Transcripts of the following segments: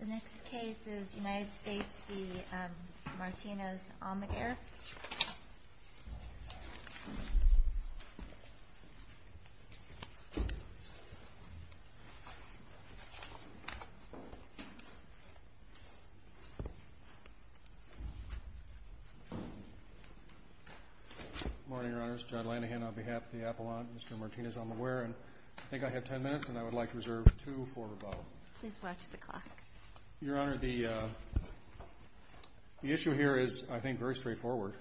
The next case is United States v. Martinez-Almaguer. Good morning, Your Honors. Judd Lanahan on behalf of the Appellant, Mr. Martinez-Almaguer. I think I have ten minutes, and I would like to reserve two for rebuttal. Please watch the clock. Your Honor, the issue here is, I think, very straightforward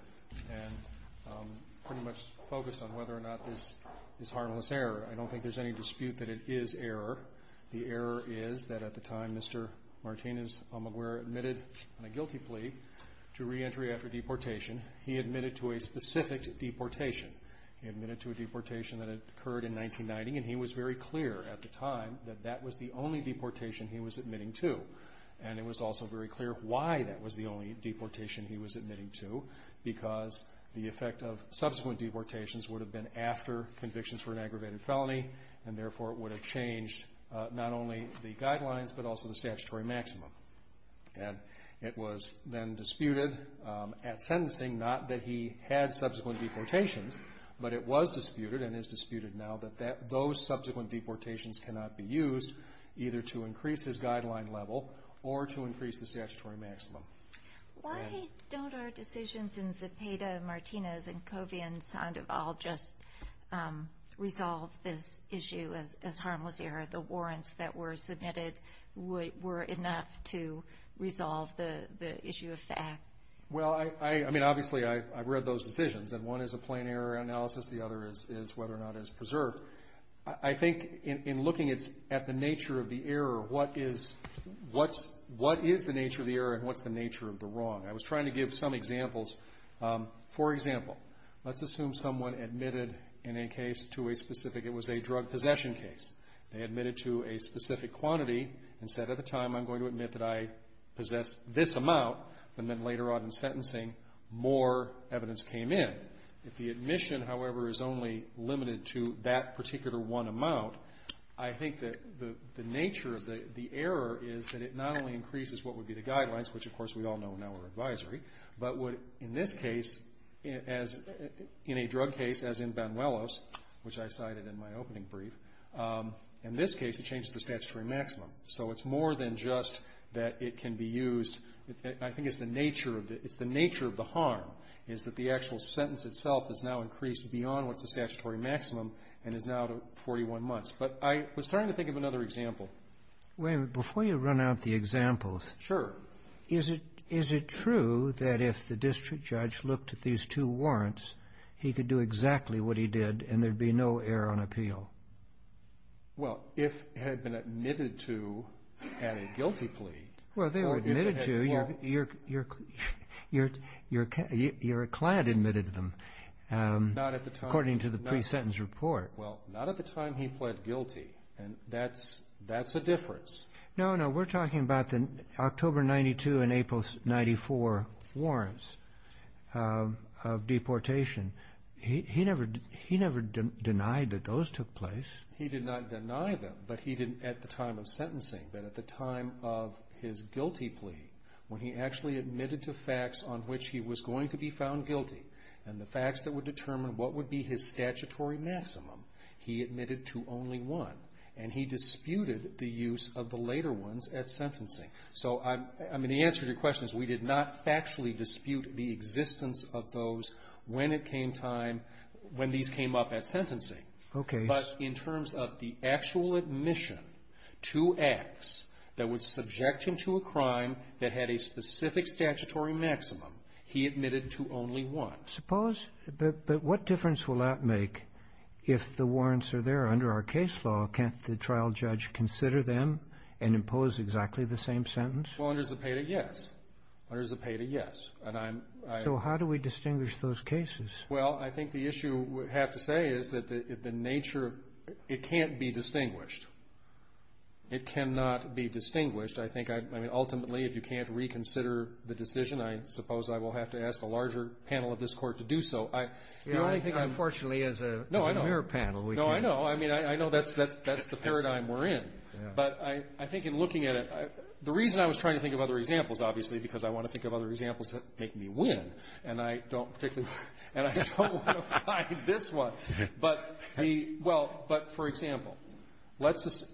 and pretty much focused on whether or not this is harmless error. I don't think there's any dispute that it is error. The error is that at the time Mr. Martinez-Almaguer admitted on a guilty plea to reentry after deportation, he admitted to a specific deportation. He admitted to a deportation that occurred in 1990, and he was very clear at the time that that was the only deportation he was admitting to. And it was also very clear why that was the only deportation he was admitting to, because the effect of subsequent deportations would have been after convictions for an aggravated felony, and therefore it would have changed not only the guidelines but also the statutory maximum. And it was then disputed at sentencing, not that he had subsequent deportations, but it was disputed and is disputed now that those subsequent deportations cannot be used, either to increase his guideline level or to increase the statutory maximum. Why don't our decisions in Zepeda, Martinez, and Covey and Sandoval just resolve this issue as harmless error? The warrants that were submitted were enough to resolve the issue of fact. Well, I mean, obviously, I've read those decisions, and one is a plain error analysis, the other is whether or not it's preserved. I think in looking at the nature of the error, what is the nature of the error and what's the nature of the wrong? I was trying to give some examples. For example, let's assume someone admitted in a case to a specific, it was a drug possession case. They admitted to a specific quantity and said at the time, I'm going to admit that I possessed this amount, and then later on in sentencing, more evidence came in. If the admission, however, is only limited to that particular one amount, I think that the nature of the error is that it not only increases what would be the guidelines, which, of course, we all know now are advisory, but would, in this case, as in a drug case, as in Banuelos, which I cited in my opening brief, in this case, it changes the statutory maximum. So it's more than just that it can be used. I think it's the nature of the harm is that the actual sentence itself is now increased beyond what's the statutory maximum and is now to 41 months. But I was trying to think of another example. Wait a minute. Before you run out the examples. Sure. Is it true that if the district judge looked at these two warrants, he could do exactly what he did and there'd be no error on appeal? Well, if it had been admitted to at a guilty plea. Well, they were admitted to. Your client admitted them. Not at the time. According to the pre-sentence report. Well, not at the time he pled guilty, and that's a difference. No, no. We're talking about the October 92 and April 94 warrants of deportation. He never denied that those took place. He did not deny them, but he didn't at the time of sentencing. But at the time of his guilty plea, when he actually admitted to facts on which he was going to be found guilty, and the facts that would determine what would be his statutory maximum, he admitted to only one. And he disputed the use of the later ones at sentencing. So, I mean, the answer to your question is we did not factually dispute the existence of those when it came time, when these came up at sentencing. Okay. But in terms of the actual admission to acts that would subject him to a crime that had a specific statutory maximum, he admitted to only one. Suppose, but what difference will that make if the warrants are there under our case law? Can't the trial judge consider them and impose exactly the same sentence? Well, under Zepeda, yes. Under Zepeda, yes. So how do we distinguish those cases? Well, I think the issue we have to say is that the nature, it can't be distinguished. It cannot be distinguished. I think, I mean, ultimately, if you can't reconsider the decision, I suppose I will have to ask a larger panel of this Court to do so. Unfortunately, as a mirror panel, we can't. No, I know. I mean, I know that's the paradigm we're in. But I think in looking at it, the reason I was trying to think of other examples, obviously, because I want to think of other examples that make me win, and I don't particularly, and I don't want to find this one. But the, well, but, for example, let's just,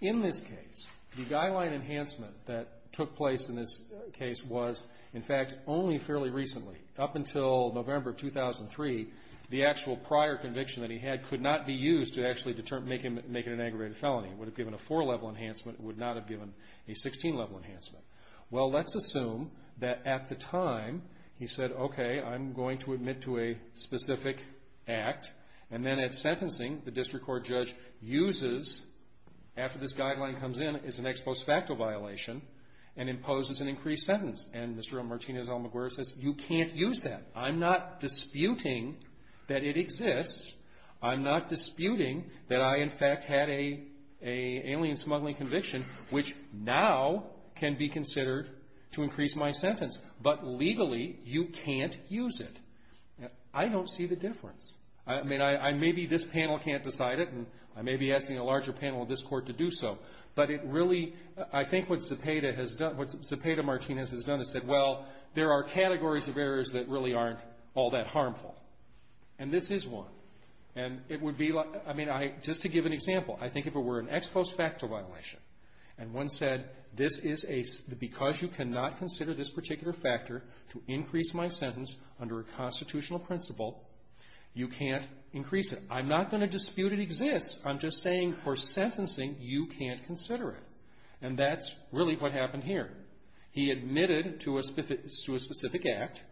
in this case, the guideline enhancement that took place in this case was, in fact, only fairly recently, up until November of 2003, the actual prior conviction that he had could not be used to actually make it an aggravated felony. It would have given a four-level enhancement. It would not have given a 16-level enhancement. Well, let's assume that at the time he said, okay, I'm going to admit to a specific act. And then at sentencing, the district court judge uses, after this guideline comes in, is an ex post facto violation and imposes an increased sentence. And Mr. Martinez-Almaguer says, you can't use that. I'm not disputing that it exists. I'm not disputing that I, in fact, had an alien smuggling conviction, which now can be considered to increase my sentence. But legally, you can't use it. I don't see the difference. I mean, maybe this panel can't decide it, and I may be asking a larger panel of this court to do so. But it really, I think what Cepeda has done, what Cepeda-Martinez has done is said, well, there are categories of errors that really aren't all that harmful. And this is one. And it would be like, I mean, I, just to give an example, I think if it were an ex post facto violation, and one said this is a, because you cannot consider this particular factor to increase my sentence under a constitutional principle, you can't increase it. I'm not going to dispute it exists. I'm just saying for sentencing, you can't consider it. And that's really what happened here. He admitted to a specific act.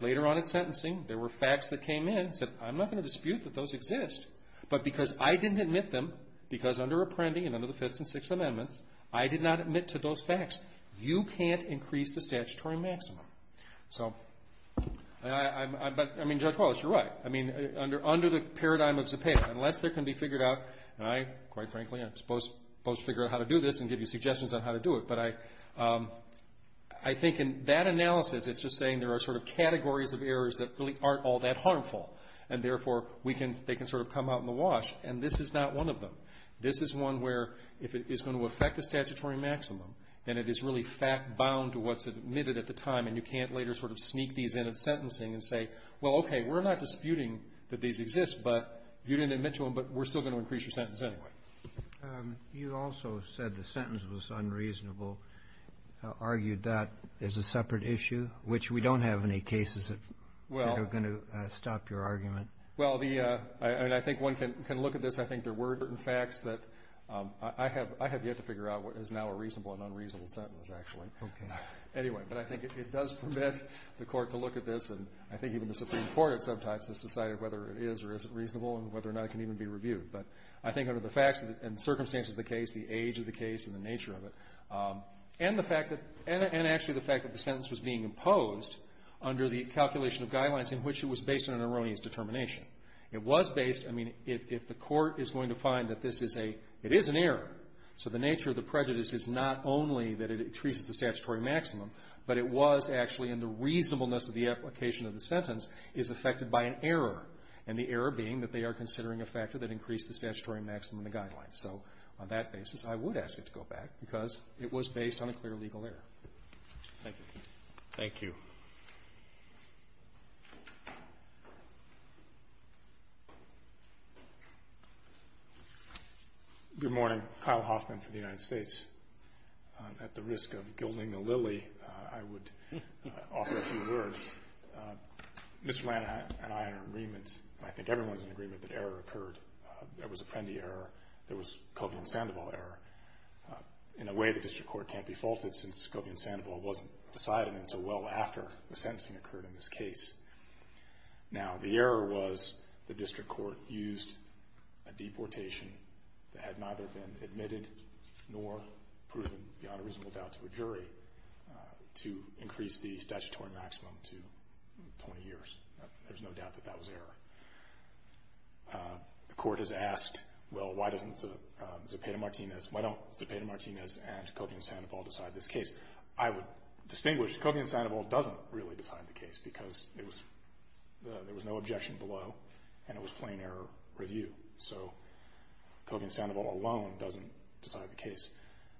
Later on in sentencing, there were facts that came in. He said, I'm not going to dispute that those exist. But because I didn't admit them, because under Apprendi and under the Fifth and Sixth Amendments, I did not admit to those facts, you can't increase the statutory maximum. So, I mean, Judge Wallace, you're right. I mean, under the paradigm of Zepeda, unless there can be figured out, and I, quite frankly, I'm supposed to figure out how to do this and give you suggestions on how to do it. But I think in that analysis, it's just saying there are sort of categories of errors that really aren't all that harmful. And, therefore, they can sort of come out in the wash. And this is not one of them. This is one where if it is going to affect the statutory maximum, then it is really fact-bound to what's admitted at the time. And you can't later sort of sneak these in at sentencing and say, well, okay, we're not disputing that these exist, but you didn't admit to them, but we're still going to increase your sentence anyway. Kennedy. You also said the sentence was unreasonable, argued that as a separate issue, which we don't have any cases that are going to stop your argument. Well, I think one can look at this. I think there were certain facts that I have yet to figure out what is now a reasonable and unreasonable sentence, actually. Okay. Anyway, but I think it does permit the Court to look at this. And I think even the Supreme Court at some times has decided whether it is or isn't reasonable and whether or not it can even be reviewed. But I think under the facts and circumstances of the case, the age of the case and the nature of it, and the fact that the sentence was being imposed under the calculation of guidelines in which it was based on an erroneous determination. It was based, I mean, if the Court is going to find that this is a, it is an error, so the nature of the prejudice is not only that it increases the statutory maximum, but it was actually in the reasonableness of the application of the sentence is affected by an error, and the error being that they are considering a factor that increased the statutory maximum in the guidelines. So on that basis, I would ask it to go back because it was based on a clear legal error. Thank you. Thank you. Thank you. Good morning. Kyle Hoffman for the United States. At the risk of gilding the lily, I would offer a few words. Mr. Blanton and I are in agreement, and I think everyone is in agreement, that error occurred. There was Apprendi error. There was Covian-Sandoval error. In a way, the District Court can't be faulted since Covian-Sandoval wasn't decided until well after the sentencing occurred in this case. Now, the error was the District Court used a deportation that had neither been admitted nor proven beyond a reasonable doubt to a jury to increase the statutory maximum to 20 years. There's no doubt that that was error. The Court has asked, well, why doesn't Zepeda-Martinez, why don't Zepeda-Martinez and Covian-Sandoval decide this case? I would distinguish. Covian-Sandoval doesn't really decide the case because there was no objection below, and it was plain error review. So Covian-Sandoval alone doesn't decide the case.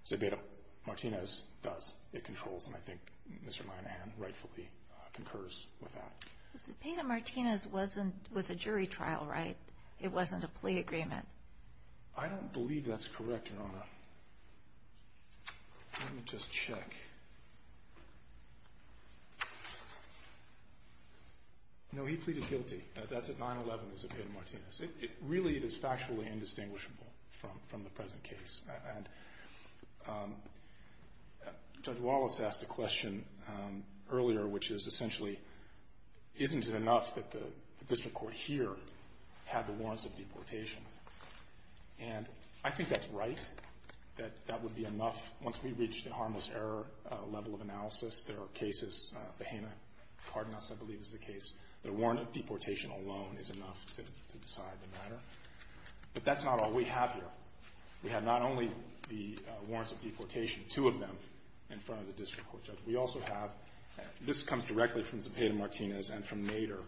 Zepeda-Martinez does. It controls, and I think Mr. Moynihan rightfully concurs with that. Zepeda-Martinez was a jury trial, right? It wasn't a plea agreement. I don't believe that's correct, Your Honor. Let me just check. No, he pleaded guilty. That's at 9-11, Zepeda-Martinez. Really, it is factually indistinguishable from the present case. And Judge Wallace asked a question earlier, which is essentially, isn't it enough that the district court here had the warrants of deportation? And I think that's right, that that would be enough. Once we reach the harmless error level of analysis, there are cases, the Hanna-Cardenas, I believe, is the case, that a warrant of deportation alone is enough to decide the matter. But that's not all we have here. We have not only the warrants of deportation, two of them, in front of the district court judge. We also have this comes directly from Zepeda-Martinez and from Nader.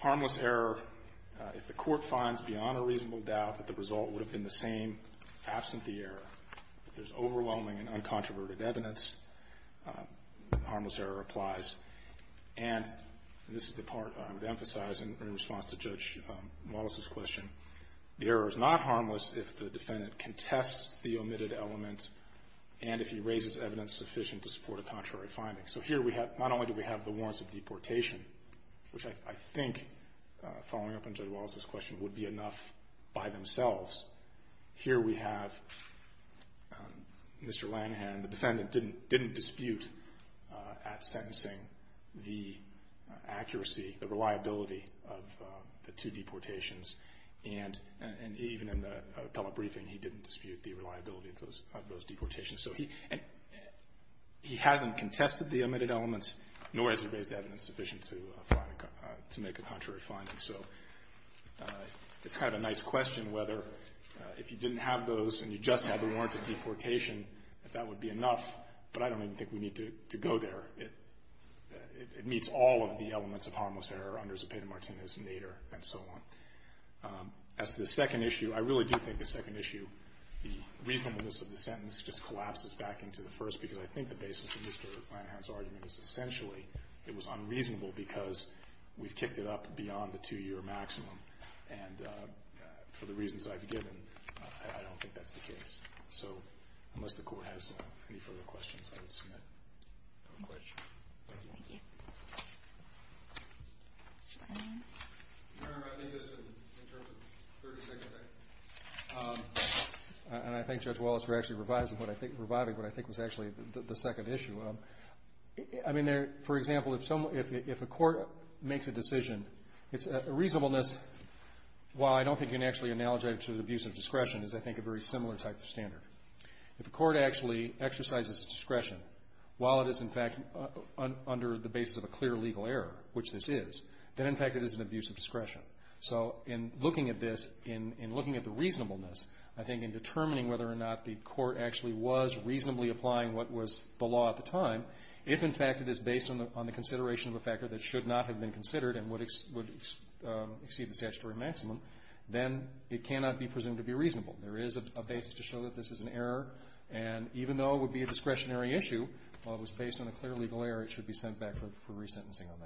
Harmless error, if the court finds beyond a reasonable doubt that the result would have been the same, absent the error. If there's overwhelming and uncontroverted evidence, harmless error applies. And this is the part I would emphasize in response to Judge Wallace's question. The error is not harmless if the defendant contests the omitted element and if he raises evidence sufficient to support a contrary finding. So here we have, not only do we have the warrants of deportation, which I think, following up on Judge Wallace's question, would be enough by themselves. Here we have Mr. Lanahan, the defendant, didn't dispute at sentencing the accuracy, the reliability of the two deportations. And even in the appellate briefing, he didn't dispute the reliability of those deportations. So he hasn't contested the omitted elements, nor has he raised evidence sufficient to make a contrary finding. So it's kind of a nice question whether if you didn't have those and you just had the warrants of deportation, if that would be enough. But I don't even think we need to go there. It meets all of the elements of harmless error under Zepeda-Martinez, Nader, and so on. As to the second issue, I really do think the second issue, the reasonableness of the sentence just collapses back into the first, because I think the basis of Mr. Lanahan's argument is essentially it was unreasonable because we've kicked it up beyond the two-year maximum. And for the reasons I've given, I don't think that's the case. So unless the Court has any further questions, I will submit a question. Thank you. Thank you. Mr. Lanahan? No, I think this is in terms of 30 seconds, I think. And I thank Judge Wallace for actually reviving what I think was actually the second issue. I mean, for example, if a court makes a decision, it's a reasonableness. While I don't think you can actually analogize it to the abuse of discretion, it's I think a very similar type of standard. If a court actually exercises discretion while it is, in fact, under the basis of a clear legal error, which this is, then, in fact, it is an abuse of discretion. So in looking at this, in looking at the reasonableness, I think in determining whether or not the court actually was reasonably applying what was the law at the time, if, in fact, it is based on the consideration of a factor that should not have been considered and would exceed the statutory maximum, then it cannot be presumed to be an abuse of discretion. So I think this is a basis to show that this is an error. And even though it would be a discretionary issue, while it was based on a clear legal error, it should be sent back for resentencing on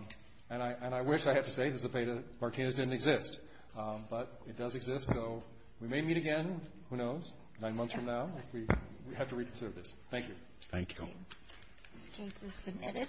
that. And I wish, I have to say, this debate of Martinez didn't exist. But it does exist. So we may meet again, who knows, nine months from now. We have to reconsider this. Thank you. Thank you. This case is submitted.